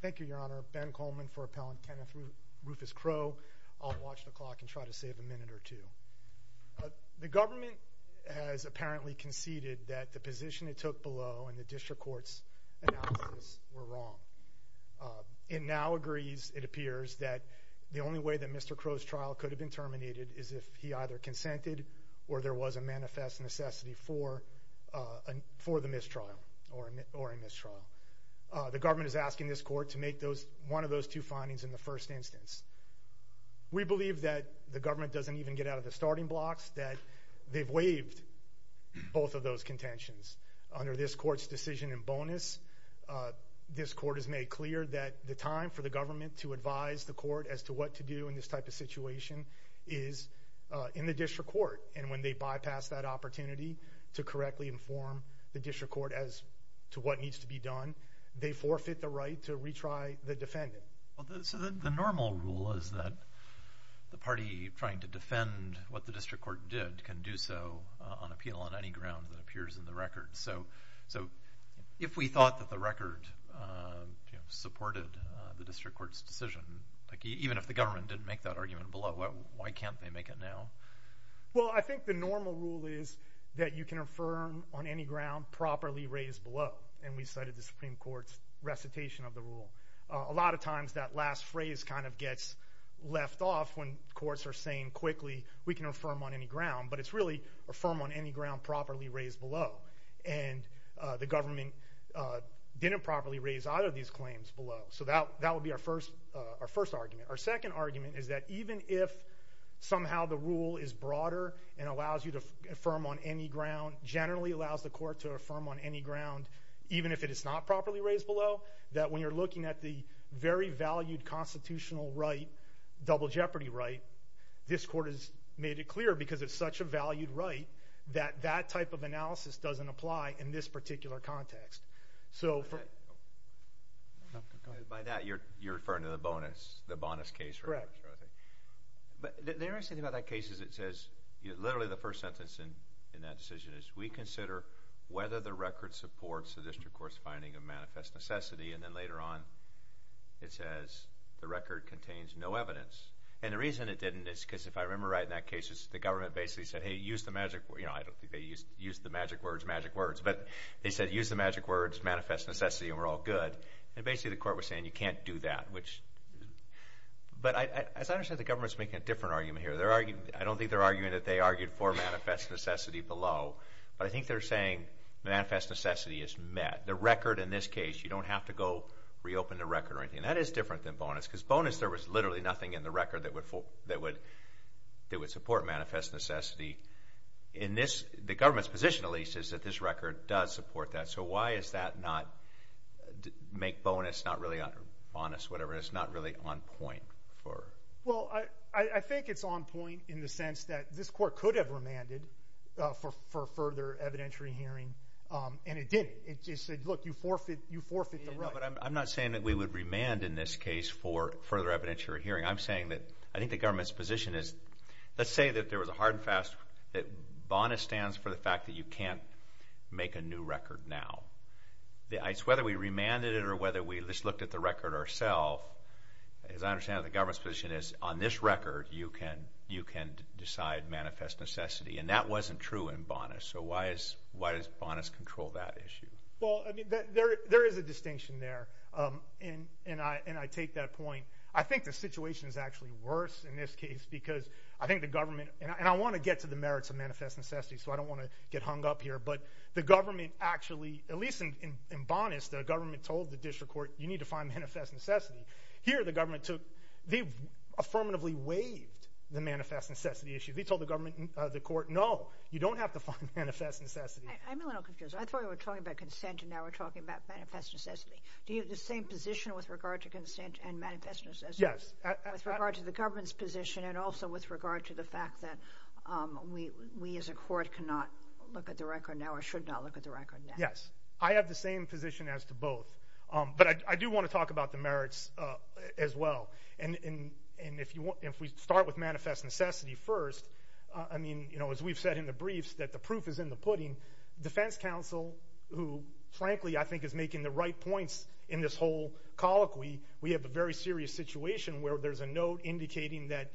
Thank you, Your Honor. Ben Coleman for Appellant Kenneth Rufus Crowe. I'll watch the clock and try to save a minute or two. The government has apparently conceded that the position it took below and the district court's analysis were wrong. It now agrees, it appears, that the only way that Mr. Crowe's trial could have been terminated is if he either consented or there was a manifest necessity for the mistrial or a mistrial. The government is asking this court to make one of those two findings in the first instance. We believe that the government doesn't even get out of the starting blocks, that they've waived both of those contentions. Under this court's decision in bonus, this court has made clear that the time for the government to advise the court as to what to do in this type of situation is in the district court. When they bypass that opportunity to correctly inform the district court as to what needs to be done, they forfeit the right to retry the defendant. The normal rule is that the party trying to defend what the district court did can do so on appeal on any ground that appears in the record. If we thought that the record supported the district court's decision, even if the government didn't make that argument below, why can't they make it now? I think the normal rule is that you can affirm on any ground properly raised below. We cited the Supreme Court's recitation of the rule. A lot of times that last phrase gets left off when courts are saying quickly, we can affirm on any ground, but it's really affirm on any ground properly raised below. The government didn't properly raise either of these claims below. That would be our first argument. Our second argument is that even if somehow the rule is broader and allows you to affirm on any ground, generally allows the court to affirm on any ground, even if it is not properly raised below, that when you're looking at the very valued constitutional right, double jeopardy right, this court has made it clear because it's such a valued right that that type of analysis doesn't apply in this particular context. By that, you're referring to the bonus case? Correct. The interesting thing about that case is it says, literally the first sentence in that decision is, we consider whether the record supports the district court's finding of manifest necessity. And then later on, it says the record contains no evidence. And the reason it didn't is because if I remember right in that case, the government basically said, hey, use the magic words. I don't think they used the magic words, magic words. But they said use the magic words, manifest necessity, and we're all good. And basically the court was saying you can't do that. But as I understand it, the government is making a different argument here. I don't think they're arguing that they argued for manifest necessity below. But I think they're saying manifest necessity is met. The record in this case, you don't have to go reopen the record or anything. That is different than bonus because bonus, there was literally nothing in the record that would support manifest necessity. The government's position, at least, is that this record does support that. So why is that not make bonus not really on point? Well, I think it's on point in the sense that this court could have remanded for further evidentiary hearing, and it didn't. It just said, look, you forfeit the right. But I'm not saying that we would remand in this case for further evidentiary hearing. I'm saying that I think the government's position is let's say that there was a hard and fast, that bonus stands for the fact that you can't make a new record now. Whether we remanded it or whether we just looked at the record ourself, as I understand it, the government's position is on this record you can decide manifest necessity. And that wasn't true in bonus. So why does bonus control that issue? Well, there is a distinction there, and I take that point. I think the situation is actually worse in this case because I think the government, and I want to get to the merits of manifest necessity, so I don't want to get hung up here. But the government actually, at least in bonus, the government told the district court you need to find manifest necessity. Here the government took, they affirmatively waived the manifest necessity issue. They told the government, the court, no, you don't have to find manifest necessity. I'm a little confused. I thought we were talking about consent, and now we're talking about manifest necessity. Do you have the same position with regard to consent and manifest necessity? Yes. With regard to the government's position and also with regard to the fact that we as a court cannot look at the record now or should not look at the record now. Yes. I have the same position as to both. But I do want to talk about the merits as well. And if we start with manifest necessity first, I mean, you know, as we've said in the briefs, that the proof is in the pudding. Defense counsel, who frankly I think is making the right points in this whole colloquy, we have a very serious situation where there's a note indicating that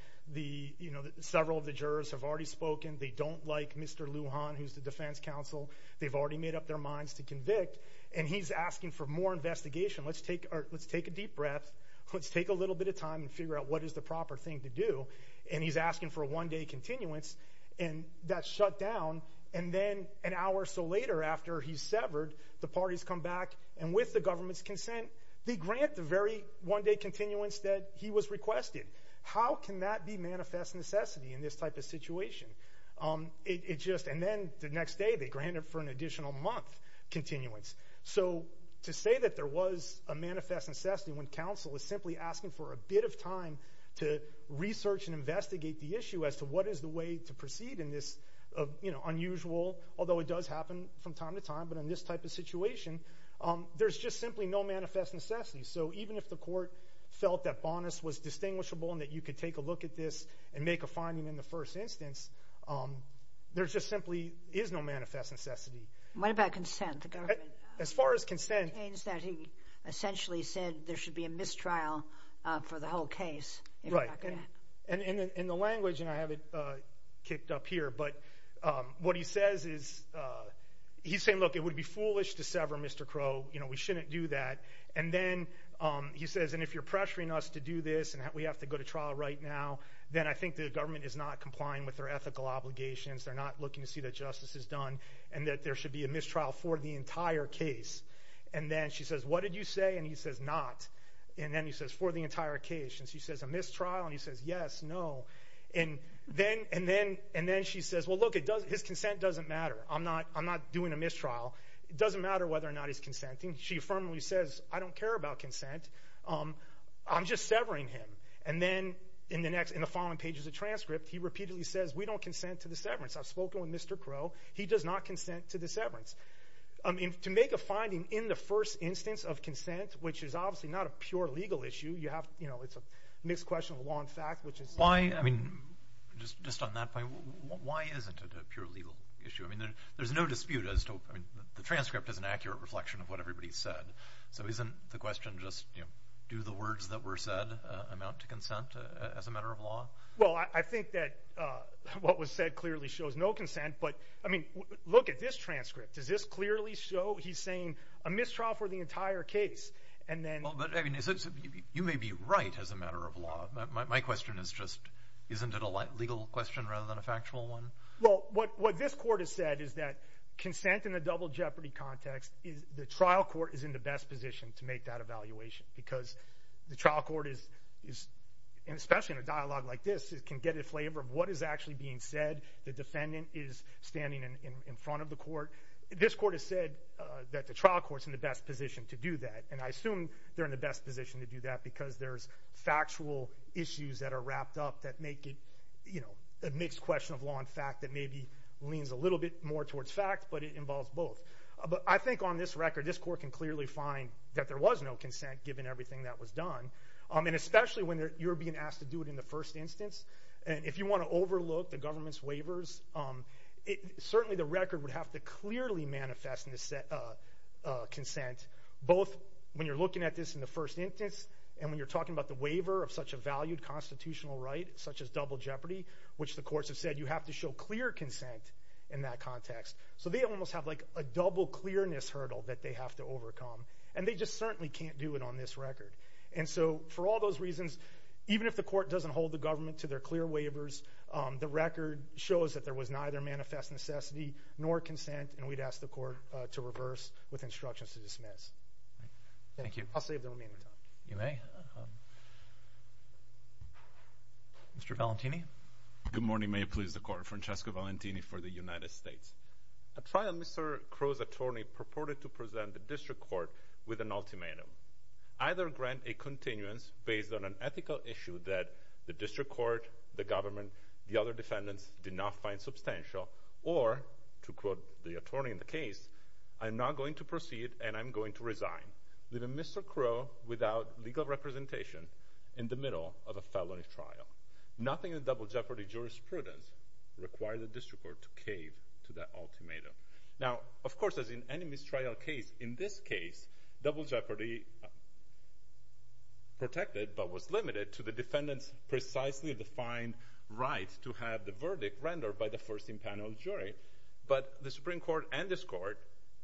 several of the jurors have already spoken. They don't like Mr. Lujan, who's the defense counsel. They've already made up their minds to convict. And he's asking for more investigation. Let's take a deep breath. Let's take a little bit of time and figure out what is the proper thing to do. And he's asking for a one-day continuance. And that's shut down. And then an hour or so later after he's severed, the parties come back. And with the government's consent, they grant the very one-day continuance that he was requested. How can that be manifest necessity in this type of situation? And then the next day they grant it for an additional month continuance. So to say that there was a manifest necessity when counsel is simply asking for a bit of time to research and investigate the issue as to what is the way to proceed in this unusual, although it does happen from time to time, but in this type of situation, there's just simply no manifest necessity. So even if the court felt that Bonas was distinguishable and that you could take a look at this and make a finding in the first instance, there just simply is no manifest necessity. What about consent? As far as consent. It seems that he essentially said there should be a mistrial for the whole case. Right. In the language, and I have it kicked up here, but what he says is he's saying, look, it would be foolish to sever Mr. Crow. We shouldn't do that. And then he says, and if you're pressuring us to do this and we have to go to trial right now, then I think the government is not complying with their ethical obligations. They're not looking to see that justice is done and that there should be a mistrial for the entire case. And then she says, what did you say? And he says, not. And then he says, for the entire case. And she says, a mistrial? And he says, yes, no. And then she says, well, look, his consent doesn't matter. I'm not doing a mistrial. It doesn't matter whether or not he's consenting. She firmly says, I don't care about consent. I'm just severing him. And then in the following pages of transcript, he repeatedly says, we don't consent to the severance. I've spoken with Mr. Crow. He does not consent to the severance. To make a finding in the first instance of consent, which is obviously not a pure legal issue, it's a mixed question of law and fact. Why, I mean, just on that point, why isn't it a pure legal issue? I mean, there's no dispute. The transcript is an accurate reflection of what everybody said. So isn't the question just do the words that were said amount to consent as a matter of law? Well, I think that what was said clearly shows no consent. But, I mean, look at this transcript. Does this clearly show he's saying a mistrial for the entire case? And then— Well, but, I mean, you may be right as a matter of law. My question is just isn't it a legal question rather than a factual one? Well, what this court has said is that consent in a double jeopardy context, the trial court is in the best position to make that evaluation because the trial court is, especially in a dialogue like this, can get a flavor of what is actually being said. The defendant is standing in front of the court. This court has said that the trial court is in the best position to do that, and I assume they're in the best position to do that because there's factual issues that are wrapped up that make it, you know, a mixed question of law and fact that maybe leans a little bit more towards fact, but it involves both. But I think on this record this court can clearly find that there was no consent given everything that was done. And especially when you're being asked to do it in the first instance, and if you want to overlook the government's waivers, certainly the record would have to clearly manifest consent, both when you're looking at this in the first instance and when you're talking about the waiver of such a valued constitutional right, such as double jeopardy, which the courts have said you have to show clear consent in that context. So they almost have like a double clearness hurdle that they have to overcome, and they just certainly can't do it on this record. And so for all those reasons, even if the court doesn't hold the government to their clear waivers, the record shows that there was neither manifest necessity nor consent, and we'd ask the court to reverse with instructions to dismiss. Thank you. I'll save the remaining time. You may. Mr. Valentini. Good morning. May it please the Court. Francesco Valentini for the United States. A trial Mr. Crow's attorney purported to present the district court with an ultimatum. Either grant a continuance based on an ethical issue that the district court, the government, the other defendants did not find substantial, or, to quote the attorney in the case, I'm not going to proceed and I'm going to resign, leaving Mr. Crow without legal representation in the middle of a felony trial. Nothing in the double jeopardy jurisprudence requires the district court to cave to that ultimatum. Now, of course, as in any mistrial case, in this case double jeopardy protected but was limited to the defendant's precisely defined right to have the verdict rendered by the first in panel jury. But the Supreme Court and this court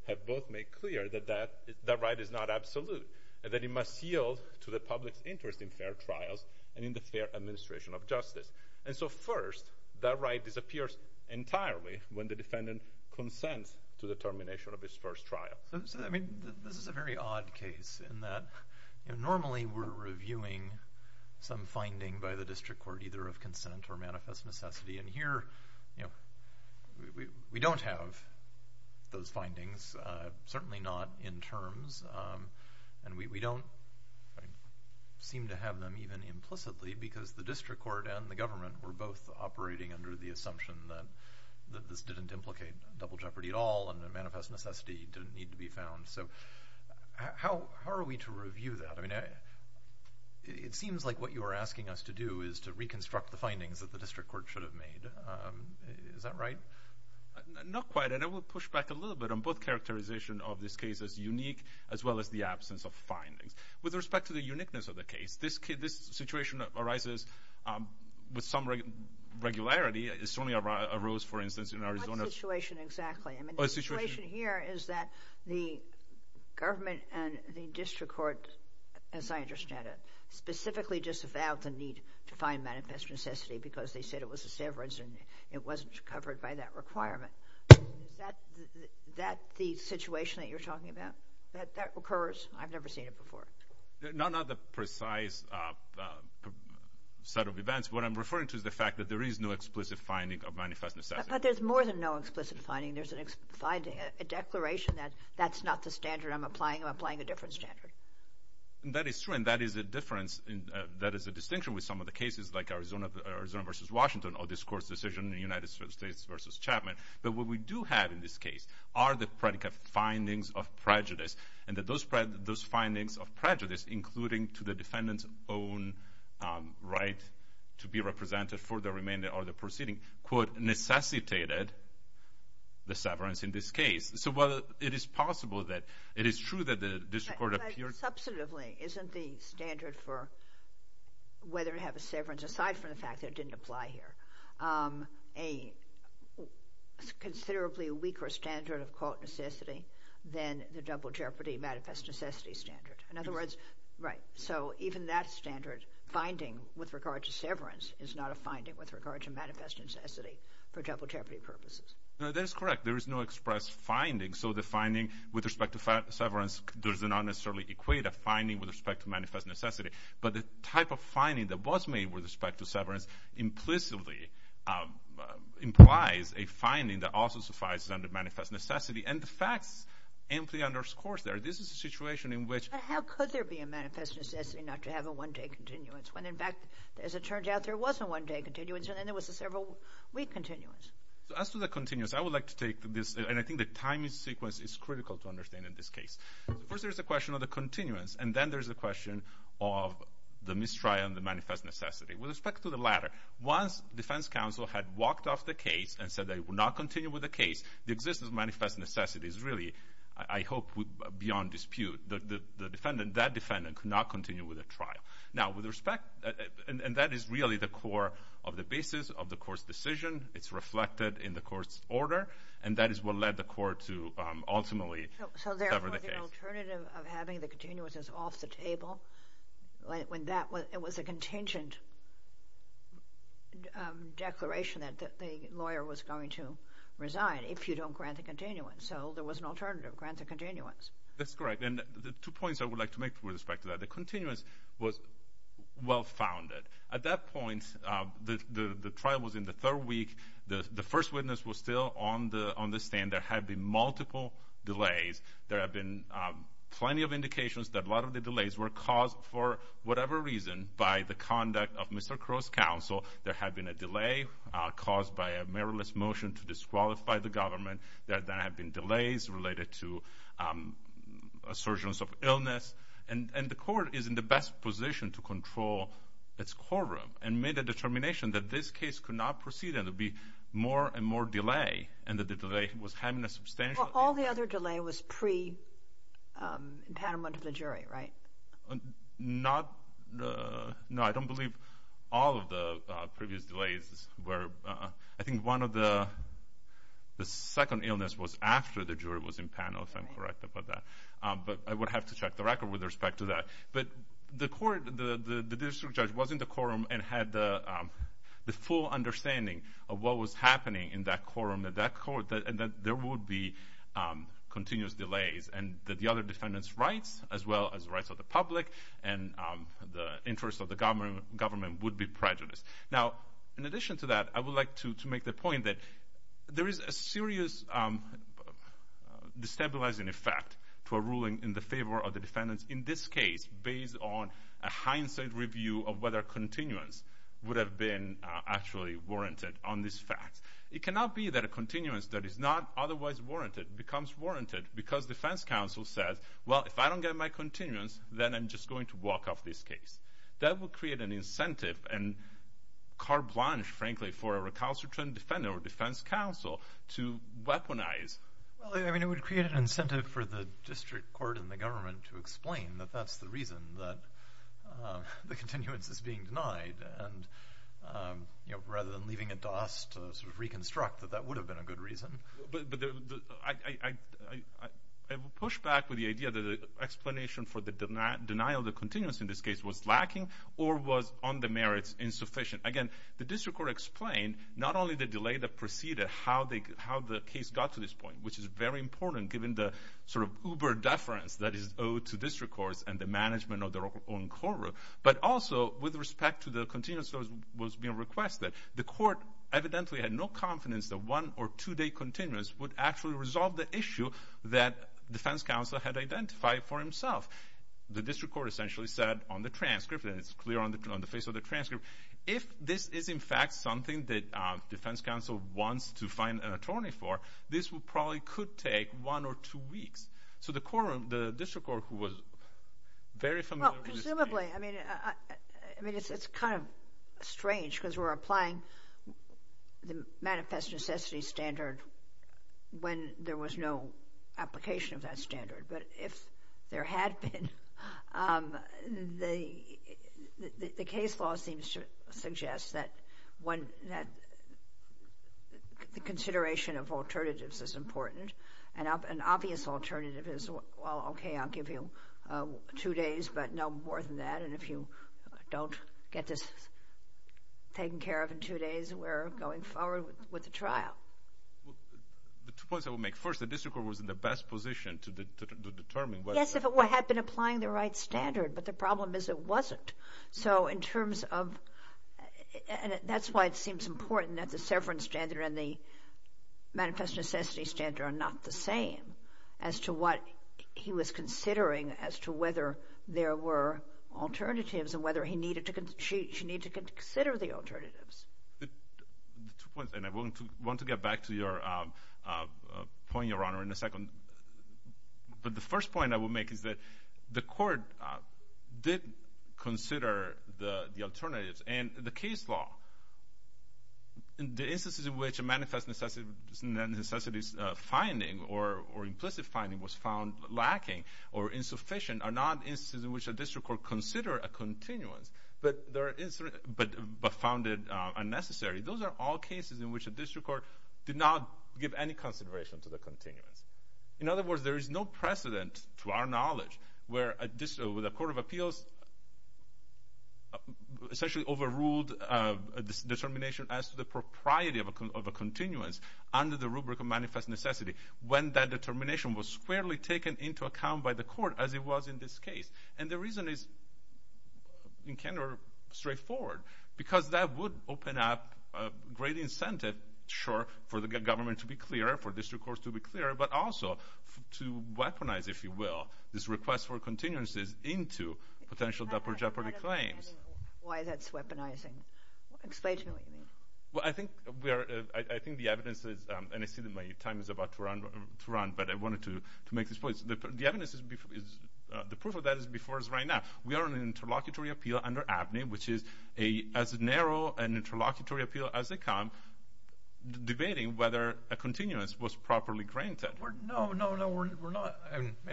have both made clear that that right is not absolute and that it must yield to the public's interest in fair trials and in the fair administration of justice. And so, first, that right disappears entirely when the defendant consents to the termination of his first trial. So, I mean, this is a very odd case in that normally we're reviewing some finding by the district court, either of consent or manifest necessity. And here, you know, we don't have those findings, certainly not in terms, and we don't seem to have them even implicitly because the district court and the government were both operating under the assumption that this didn't implicate double jeopardy at all and the manifest necessity didn't need to be found. So, how are we to review that? I mean, it seems like what you are asking us to do is to reconstruct the findings that the district court should have made. Is that right? Not quite. And I would push back a little bit on both characterization of this case as unique as well as the absence of findings. With respect to the uniqueness of the case, this situation arises with some regularity. It certainly arose, for instance, in Arizona. What is the situation exactly? I mean, the situation here is that the government and the district court, as I understand it, specifically disavowed the need to find manifest necessity because they said it was a severance and it wasn't covered by that requirement. Is that the situation that you're talking about, that that occurs? I've never seen it before. Not the precise set of events. What I'm referring to is the fact that there is no explicit finding of manifest necessity. But there's more than no explicit finding. There's a declaration that that's not the standard I'm applying. I'm applying a different standard. That is true, and that is a difference. That is a distinction with some of the cases like Arizona v. Washington or this court's decision in the United States v. Chapman. But what we do have in this case are the practical findings of prejudice and that those findings of prejudice, including to the defendant's own right to be represented for the remainder of the proceeding, quote, necessitated the severance in this case. So while it is possible that it is true that the district court appeared— But substantively, isn't the standard for whether to have a severance, aside from the fact that it didn't apply here, a considerably weaker standard of, quote, necessity than the double jeopardy manifest necessity standard? In other words, right, so even that standard finding with regard to severance is not a manifest necessity for double jeopardy purposes. No, that is correct. There is no express finding, so the finding with respect to severance does not necessarily equate a finding with respect to manifest necessity. But the type of finding that was made with respect to severance implicitly implies a finding that also suffices under manifest necessity, and the facts amply underscore there. This is a situation in which— But how could there be a manifest necessity not to have a one-day continuance when, in fact, it turns out there was a one-day continuance, and then there was a several-week continuance? As to the continuance, I would like to take this—and I think the timing sequence is critical to understand in this case. First, there is a question of the continuance, and then there is a question of the mistrial and the manifest necessity. With respect to the latter, once defense counsel had walked off the case and said they would not continue with the case, the existence of manifest necessity is really, I hope, beyond dispute. The defendant, that defendant, could not continue with the trial. Now, with respect—and that is really the core of the basis of the court's decision. It's reflected in the court's order, and that is what led the court to ultimately sever the case. So, therefore, the alternative of having the continuance is off the table, when that was a contingent declaration that the lawyer was going to resign, if you don't grant the continuance. So there was an alternative, grant the continuance. That's correct. And the two points I would like to make with respect to that, the continuance was well-founded. At that point, the trial was in the third week. The first witness was still on the stand. There had been multiple delays. There had been plenty of indications that a lot of the delays were caused for whatever reason by the conduct of Mr. Crow's counsel. There had been a delay caused by a meritless motion to disqualify the government. There had been delays related to assertions of illness, and the court is in the best position to control its courtroom and made a determination that this case could not proceed, and there would be more and more delay, and that the delay was having a substantial effect. Well, all the other delay was pre-impediment of the jury, right? No, I don't believe all of the previous delays were. I think one of the second illness was after the jury was in panel, if I'm correct about that. But I would have to check the record with respect to that. But the court, the district judge was in the courtroom and had the full understanding of what was happening in that courtroom, that there would be continuous delays, and that the other defendants' rights, as well as rights of the public and the interests of the government would be prejudiced. Now, in addition to that, I would like to make the point that there is a serious destabilizing effect to a ruling in the favor of the defendants, in this case, based on a hindsight review of whether continuance would have been actually warranted on this fact. It cannot be that a continuance that is not otherwise warranted becomes warranted because defense counsel says, well, if I don't get my continuance, then I'm just going to walk off this case. That would create an incentive and carte blanche, frankly, for a recalcitrant defendant or defense counsel to weaponize. Well, I mean, it would create an incentive for the district court and the government to explain that that's the reason that the continuance is being denied. And rather than leaving it to us to sort of reconstruct that that would have been a good reason. But I would push back with the idea that the explanation for the denial of the continuance in this case was lacking or was on the merits insufficient. Again, the district court explained not only the delay that preceded how the case got to this point, which is very important given the sort of uber deference that is owed to district courts and the management of their own courtroom, but also with respect to the continuance that was being requested. The court evidently had no confidence that one or two-day continuance would actually resolve the issue that defense counsel had identified for himself. The district court essentially said on the transcript, and it's clear on the face of the transcript, if this is in fact something that defense counsel wants to find an attorney for, this probably could take one or two weeks. So the district court, who was very familiar with this case... was applying the manifest necessity standard when there was no application of that standard. But if there had been, the case law seems to suggest that the consideration of alternatives is important. An obvious alternative is, well, okay, I'll give you two days, but no more than that. And if you don't get this taken care of in two days, we're going forward with the trial. The two points I would make. First, the district court was in the best position to determine whether... Yes, if it had been applying the right standard, but the problem is it wasn't. So in terms of... and that's why it seems important that the severance standard and the manifest necessity standard are not the same as to what he was considering as to whether there were alternatives and whether she needed to consider the alternatives. Two points, and I want to get back to your point, Your Honor, in a second. But the first point I will make is that the court did consider the alternatives. And the case law, the instances in which a manifest necessity finding or implicit finding was found lacking or insufficient are not instances in which a district court considered a continuance, but found it unnecessary. Those are all cases in which a district court did not give any consideration to the continuance. In other words, there is no precedent, to our knowledge, where a court of appeals essentially overruled a determination as to the propriety of a continuance under the rubric of manifest necessity when that determination was squarely taken into account by the court as it was in this case. And the reason is, in general, straightforward. Because that would open up a great incentive, sure, for the government to be clear, for district courts to be clear, but also to weaponize, if you will, this request for continuances into potential death or jeopardy claims. Why is that weaponizing? Explain to me what you mean. Well, I think the evidence is, and I see that my time is about to run, but I wanted to make this point. The evidence is, the proof of that is before us right now. We are on an interlocutory appeal under ABNY, which is as narrow an interlocutory appeal as it comes, and we're not debating whether a continuance was properly granted. No, no, no, we're not.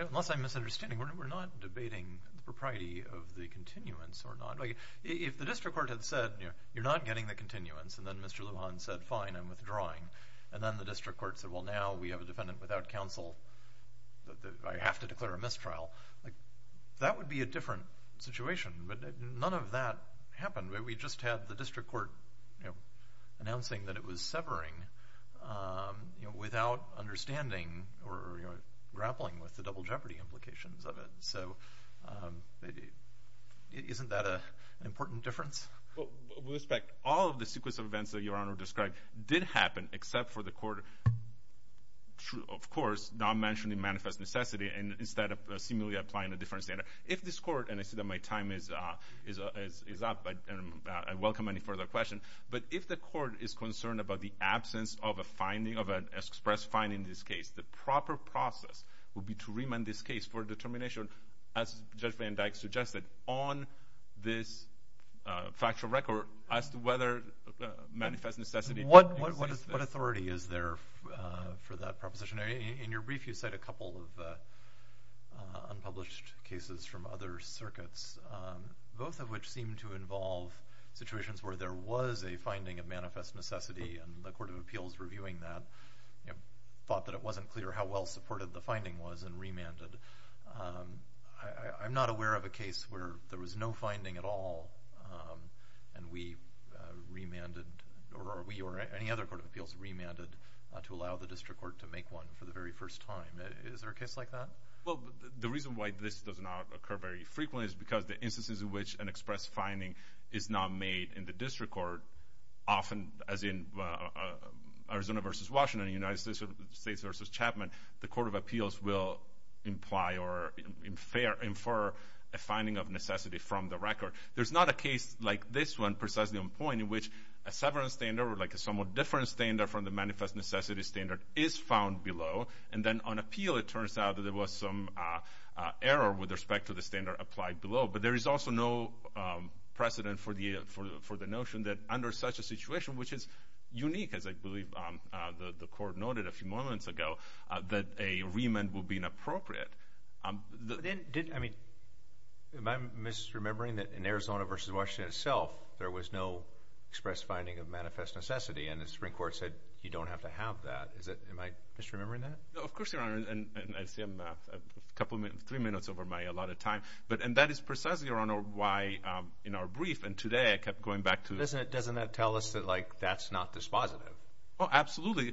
Unless I'm misunderstanding, we're not debating the propriety of the continuance or not. If the district court had said, you're not getting the continuance, and then Mr. Lujan said, fine, I'm withdrawing, and then the district court said, well, now we have a defendant without counsel. I have to declare a mistrial. That would be a different situation, but none of that happened. We just had the district court announcing that it was severing without understanding or grappling with the double jeopardy implications of it, so isn't that an important difference? With respect, all of the sequence of events that Your Honor described did happen, except for the court, of course, not mentioning manifest necessity instead of seemingly applying a different standard. If this court, and I see that my time is up, I welcome any further questions, but if the court is concerned about the absence of an express fine in this case, the proper process would be to remand this case for determination, as Judge Van Dyck suggested, on this factual record as to whether manifest necessity exists. What authority is there for that proposition? In your brief, you cite a couple of unpublished cases from other circuits, both of which seem to involve situations where there was a finding of manifest necessity, and the Court of Appeals reviewing that thought that it wasn't clear how well supported the finding was and remanded. I'm not aware of a case where there was no finding at all, and we remanded, or we or any other Court of Appeals remanded, to allow the district court to make one for the very first time. Is there a case like that? The reason why this does not occur very frequently is because the instances in which an express finding is not made in the district court, often as in Arizona v. Washington, United States v. Chapman, the Court of Appeals will imply or infer a finding of necessity from the record. There's not a case like this one precisely on point in which a severance standard or a somewhat different standard from the manifest necessity standard is found below, and then on appeal it turns out that there was some error with respect to the standard applied below. But there is also no precedent for the notion that under such a situation, which is unique, as I believe the Court noted a few moments ago, that a remand would be inappropriate. Am I misremembering that in Arizona v. Washington itself there was no express finding of manifest necessity, and the Supreme Court said you don't have to have that. Am I misremembering that? Of course, Your Honor, and I see I'm a couple of minutes, three minutes over my allotted time. And that is precisely, Your Honor, why in our brief and today I kept going back to— Doesn't that tell us that that's not dispositive? Oh, absolutely,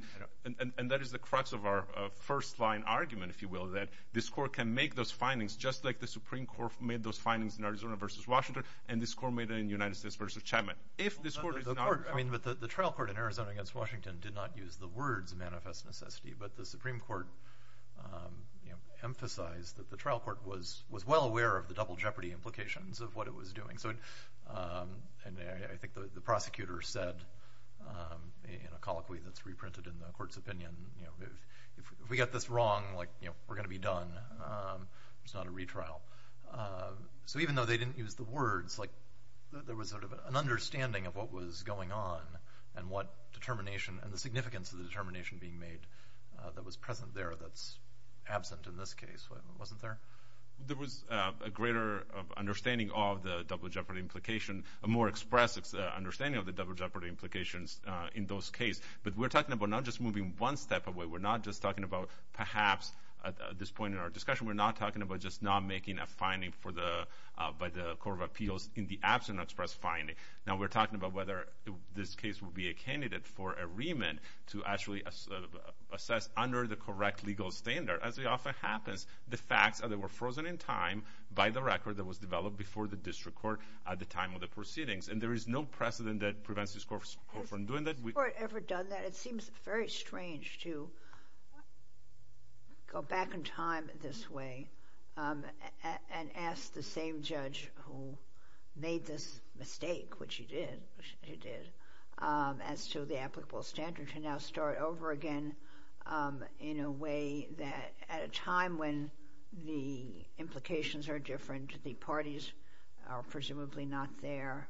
and that is the crux of our first-line argument, if you will, that this Court can make those findings just like the Supreme Court made those findings in Arizona v. Washington and this Court made it in the United States v. Chapman. The trial court in Arizona v. Washington did not use the words manifest necessity, but the Supreme Court emphasized that the trial court was well aware of the double jeopardy implications of what it was doing. And I think the prosecutor said in a colloquy that's reprinted in the Court's opinion, if we get this wrong, we're going to be done. It's not a retrial. So even though they didn't use the words, there was sort of an understanding of what was going on and the significance of the determination being made that was present there that's absent in this case. Wasn't there? There was a greater understanding of the double jeopardy implication, a more expressed understanding of the double jeopardy implications in those cases. But we're talking about not just moving one step away. We're not just talking about perhaps at this point in our discussion, we're not talking about just not making a finding by the Court of Appeals in the absence of an express finding. Now, we're talking about whether this case would be a candidate for a remand to actually assess under the correct legal standard. As it often happens, the facts are they were frozen in time by the record that was developed before the district court at the time of the proceedings. And there is no precedent that prevents this court from doing that. Has the court ever done that? It seems very strange to go back in time this way and ask the same judge who made this mistake, which he did, as to the applicable standard, to now start over again in a way that at a time when the implications are different, the parties are presumably not there.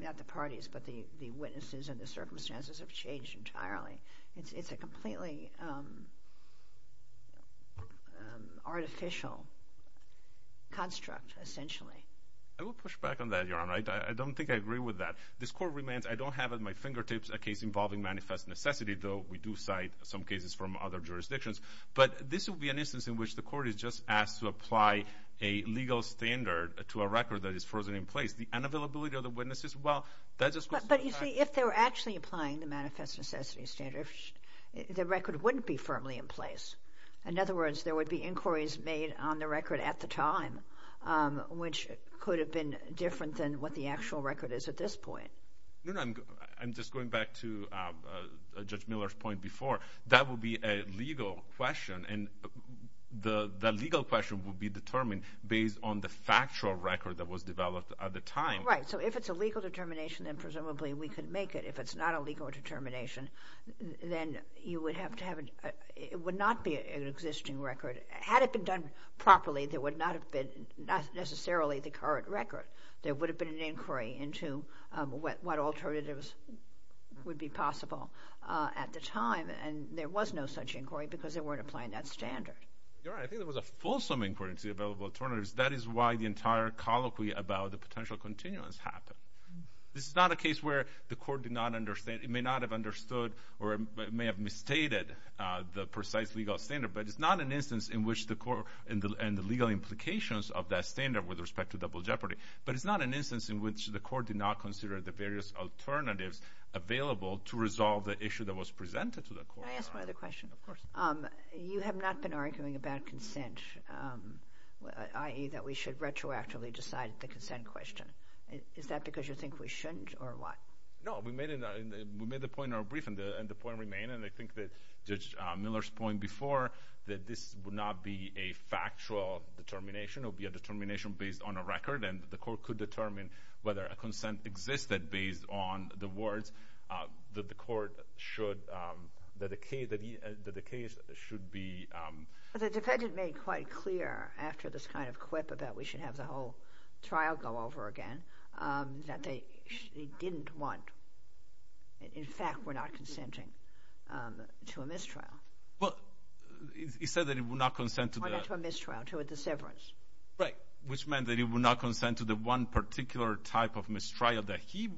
Not the parties, but the witnesses and the circumstances have changed entirely. It's a completely artificial construct, essentially. I will push back on that, Your Honor. I don't think I agree with that. I don't have at my fingertips a case involving manifest necessity, though we do cite some cases from other jurisdictions. But this would be an instance in which the court is just asked to apply a legal standard to a record that is frozen in place. The unavailability of the witnesses, well, that's a question of time. But, you see, if they were actually applying the manifest necessity standard, the record wouldn't be firmly in place. In other words, there would be inquiries made on the record at the time, which could have been different than what the actual record is at this point. No, no. I'm just going back to Judge Miller's point before. That would be a legal question, and that legal question would be determined based on the factual record that was developed at the time. Right. So if it's a legal determination, then presumably we could make it. If it's not a legal determination, then you would have to have a... It would not be an existing record. Had it been done properly, there would not have been necessarily the current record. There would have been an inquiry into what alternatives would be possible at the time, and there was no such inquiry because they weren't applying that standard. You're right. I think there was a fulsome inquiry into the available alternatives. That is why the entire colloquy about the potential continuance happened. This is not a case where the court did not understand... It may not have understood or it may have misstated the precise legal standard, but it's not an instance in which the court... and the legal implications of that standard with respect to double jeopardy, but it's not an instance in which the court did not consider the various alternatives available to resolve the issue that was presented to the court. Can I ask one other question? Of course. You have not been arguing about consent, i.e. that we should retroactively decide the consent question. Is that because you think we shouldn't or what? No. We made the point in our briefing, and the point remained, and I think that Judge Miller's point before that this would not be a factual determination. It would be a determination based on a record, and the court could determine whether a consent existed based on the words that the case should be... The defendant made quite clear after this kind of quip about we should have the whole trial go over again that they didn't want. In fact, we're not consenting to a mistrial. Well, he said that he would not consent to the... Or not to a mistrial, to a disseverance. Right, which meant that he would not consent to the one particular type of mistrial that he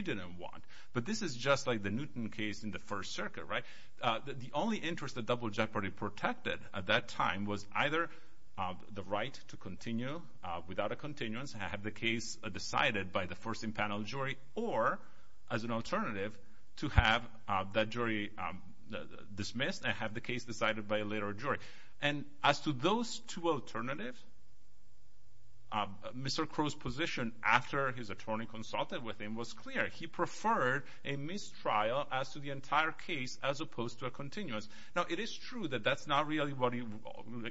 didn't want. But this is just like the Newton case in the First Circuit, right? The only interest that double jeopardy protected at that time was either the right to continue without a continuance and have the case decided by the first in panel jury or as an alternative to have that jury dismissed and have the case decided by a later jury. And as to those two alternatives, Mr. Crow's position after his attorney consulted with him was clear. He preferred a mistrial as to the entire case as opposed to a continuance. Now, it is true that that's not really what he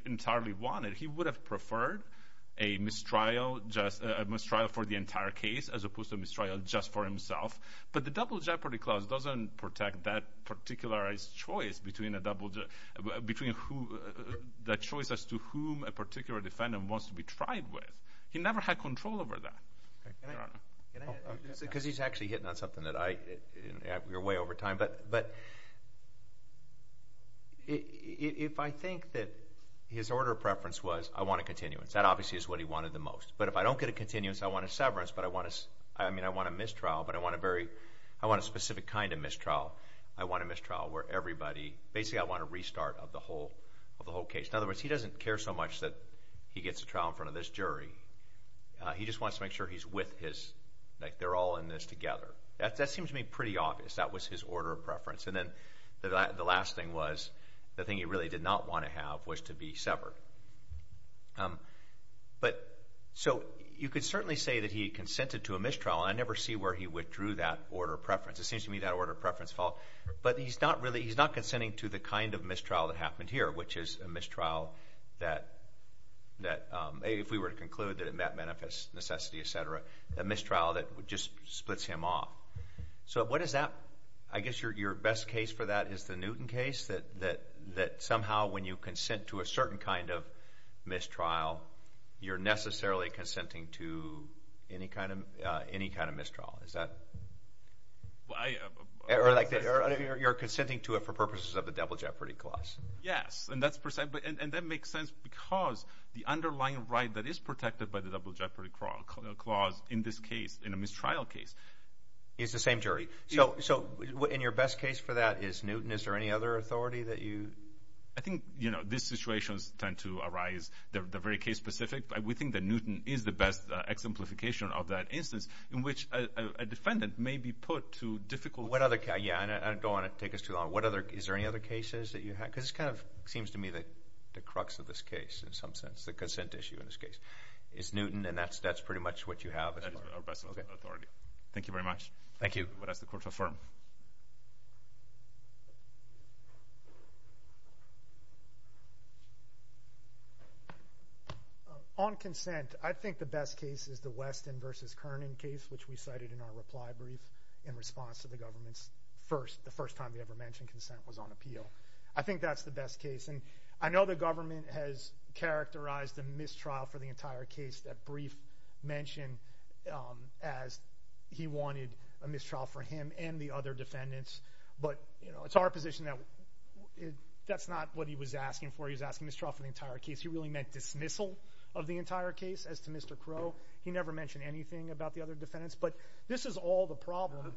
entirely wanted. He would have preferred a mistrial just... a mistrial for the entire case as opposed to a mistrial just for himself. But the double jeopardy clause doesn't protect that particularized choice between a double... between who... that choice as to whom a particular defendant wants to be tried with. He never had control over that. Can I... Because he's actually hitting on something that I... we're way over time. But if I think that his order of preference was, I want a continuance, that obviously is what he wanted the most. But if I don't get a continuance, I want a severance. But I want a... I mean, I want a mistrial, but I want a very... I want a specific kind of mistrial. I want a mistrial where everybody... basically, I want a restart of the whole case. In other words, he doesn't care so much that he gets a trial in front of this jury. He just wants to make sure he's with his... like they're all in this together. That seems to me pretty obvious. That was his order of preference. And then the last thing was the thing he really did not want to have was to be severed. But... so you could certainly say that he consented to a mistrial. I never see where he withdrew that order of preference. It seems to me that order of preference... But he's not really... he's not consenting to the kind of mistrial that happened here, which is a mistrial that... if we were to conclude that it met Menefis necessity, et cetera, a mistrial that just splits him off. So what is that? I guess your best case for that is the Newton case that somehow when you consent to a certain kind of mistrial, you're necessarily consenting to any kind of mistrial. Is that... Well, I... You're consenting to it for purposes of the double jeopardy clause. Yes, and that's... and that makes sense because the underlying right that is protected by the double jeopardy clause in this case, in a mistrial case... Is the same jury. So in your best case for that is Newton. Is there any other authority that you... I think, you know, these situations tend to arise. They're very case specific, but we think that Newton is the best exemplification of that instance in which a defendant may be put to difficult... What other... yeah, and I don't want to take us too long. But what other... is there any other cases that you have? Because it kind of seems to me that the crux of this case in some sense, the consent issue in this case, is Newton, and that's pretty much what you have as far as... That is our best authority. Okay. Thank you very much. Thank you. I'm going to ask the Court to affirm. On consent, I think the best case is the Weston v. Kerning case, which we cited in our reply brief in response to the government's first... the first time we ever mentioned consent was on appeal. I think that's the best case. And I know the government has characterized a mistrial for the entire case, that brief mentioned as he wanted a mistrial for him and the other defendants. But, you know, it's our position that that's not what he was asking for. He was asking mistrial for the entire case. He really meant dismissal of the entire case. As to Mr. Crow, he never mentioned anything about the other defendants. But this is all the problem.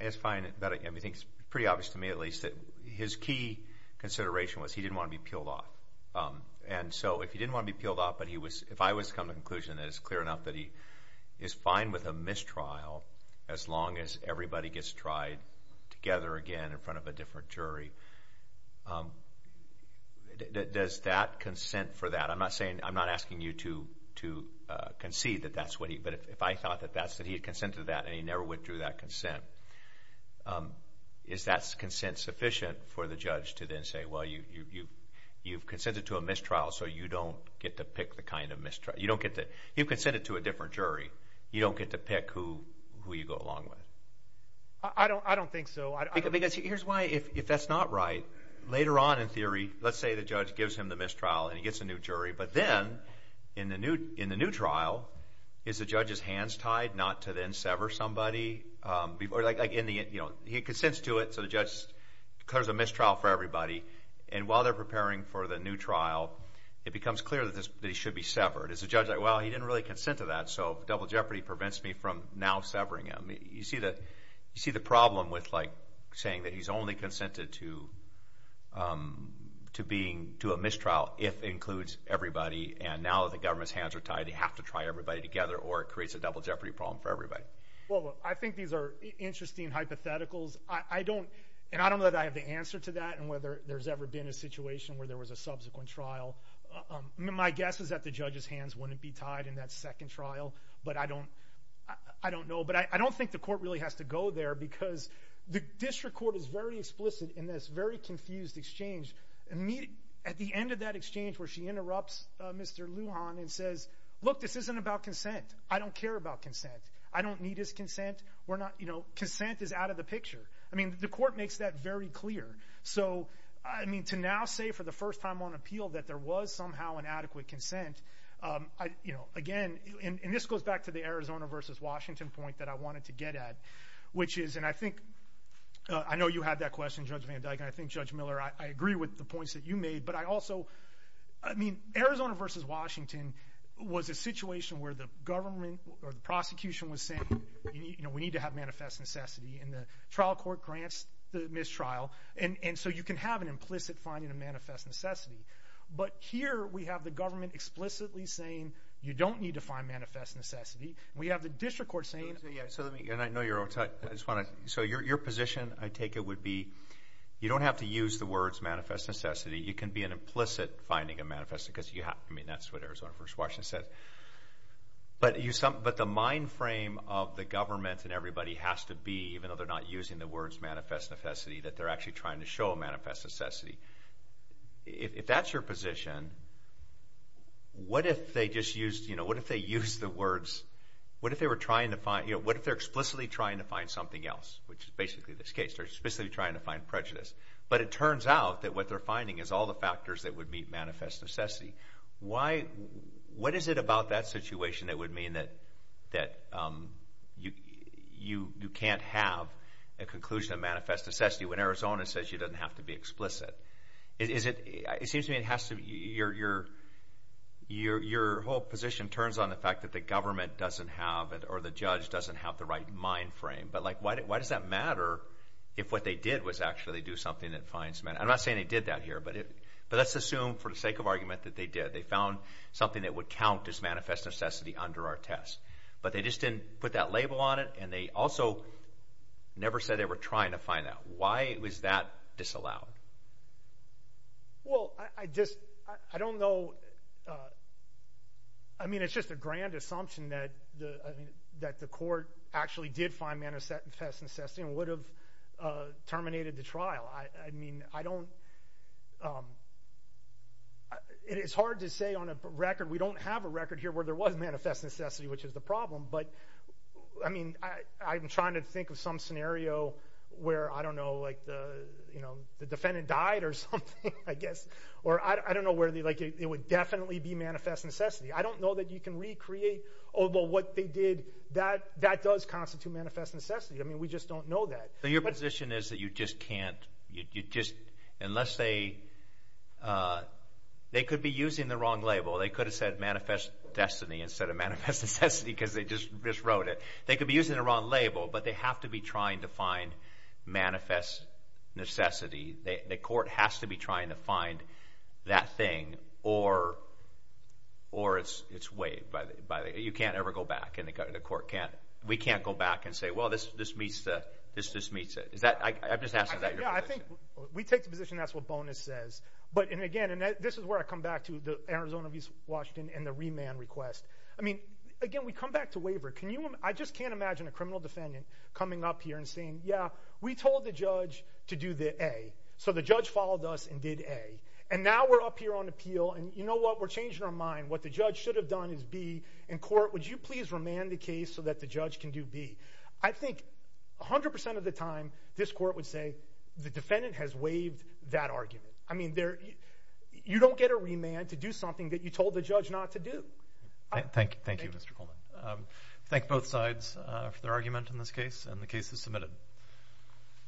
It's fine. I think it's pretty obvious to me at least that his key consideration was he didn't want to be peeled off. And so if he didn't want to be peeled off, but he was... if I was to come to the conclusion that it's clear enough that he is fine with a mistrial as long as everybody gets tried together again in front of a different jury, does that consent for that? I'm not asking you to concede that that's what he... but if I thought that he had consented to that and he never withdrew that consent, is that consent sufficient for the judge to then say, well, you've consented to a mistrial so you don't get to pick the kind of mistrial. You don't get to... you've consented to a different jury. You don't get to pick who you go along with. I don't think so. Let's say the judge gives him the mistrial and he gets a new jury, but then in the new trial, is the judge's hands tied not to then sever somebody? He consents to it, so the judge clears the mistrial for everybody, and while they're preparing for the new trial, it becomes clear that he should be severed. Is the judge like, well, he didn't really consent to that, so double jeopardy prevents me from now severing him? You see the problem with saying that he's only consented to a mistrial if it includes everybody, and now that the government's hands are tied, they have to try everybody together or it creates a double jeopardy problem for everybody. Well, I think these are interesting hypotheticals. I don't know that I have the answer to that and whether there's ever been a situation where there was a subsequent trial. My guess is that the judge's hands wouldn't be tied in that second trial, but I don't know. But I don't think the court really has to go there because the district court is very explicit in this very confused exchange. At the end of that exchange where she interrupts Mr. Lujan and says, look, this isn't about consent. I don't care about consent. I don't need his consent. Consent is out of the picture. I mean, the court makes that very clear. So, I mean, to now say for the first time on appeal that there was somehow an adequate consent, you know, again, and this goes back to the Arizona versus Washington point that I wanted to get at, which is, and I think I know you had that question, Judge Van Dyken. I think, Judge Miller, I agree with the points that you made, but I also, I mean, Arizona versus Washington was a situation where the government or the prosecution was saying, you know, we need to have manifest necessity, and the trial court grants the mistrial, and so you can have an implicit finding of manifest necessity. But here we have the government explicitly saying you don't need to find manifest necessity. We have the district court saying. Yeah, so let me, and I know you're on time. So your position, I take it, would be you don't have to use the words manifest necessity. You can be an implicit finding of manifest necessity because you have, I mean, that's what Arizona versus Washington said. But the mind frame of the government and everybody has to be, even though they're not using the words manifest necessity, that they're actually trying to show manifest necessity. If that's your position, what if they just used, you know, what if they used the words, what if they were trying to find, you know, what if they're explicitly trying to find something else, which is basically this case. They're explicitly trying to find prejudice. But it turns out that what they're finding is all the factors that would meet manifest necessity. Why, what is it about that situation that would mean that you can't have a conclusion of manifest necessity when Arizona says you don't have to be explicit? Is it, it seems to me it has to, your whole position turns on the fact that the government doesn't have, or the judge doesn't have the right mind frame. But, like, why does that matter if what they did was actually do something that finds, I'm not saying they did that here, but let's assume for the sake of argument that they did. They found something that would count as manifest necessity under our test. But they just didn't put that label on it, and they also never said they were trying to find that. Why was that disallowed? Well, I just, I don't know. I mean, it's just a grand assumption that the court actually did find manifest necessity and would have terminated the trial. I mean, I don't, it's hard to say on a record. We don't have a record here where there was manifest necessity, which is the problem. But, I mean, I'm trying to think of some scenario where, I don't know, like, the defendant died or something, I guess. Or I don't know where they, like, it would definitely be manifest necessity. I don't know that you can recreate, although what they did, that does constitute manifest necessity. I mean, we just don't know that. So your position is that you just can't, you just, unless they, they could be using the wrong label. They could have said manifest destiny instead of manifest necessity because they just miswrote it. They could be using the wrong label, but they have to be trying to find manifest necessity. The court has to be trying to find that thing or it's waived. You can't ever go back, and the court can't. We can't go back and say, well, this just meets it. Is that, I'm just asking about your position. Yeah, I think we take the position that's what Bonus says. But, and again, and this is where I come back to the Arizona v. Washington and the remand request. I mean, again, we come back to waiver. Can you, I just can't imagine a criminal defendant coming up here and saying, yeah, we told the judge to do the A. So the judge followed us and did A. And now we're up here on appeal, and you know what? We're changing our mind. What the judge should have done is B. In court, would you please remand the case so that the judge can do B? I think 100% of the time this court would say the defendant has waived that argument. I mean, you don't get a remand to do something that you told the judge not to do. Thank you, Mr. Coleman. Thank both sides for their argument in this case, and the case is submitted.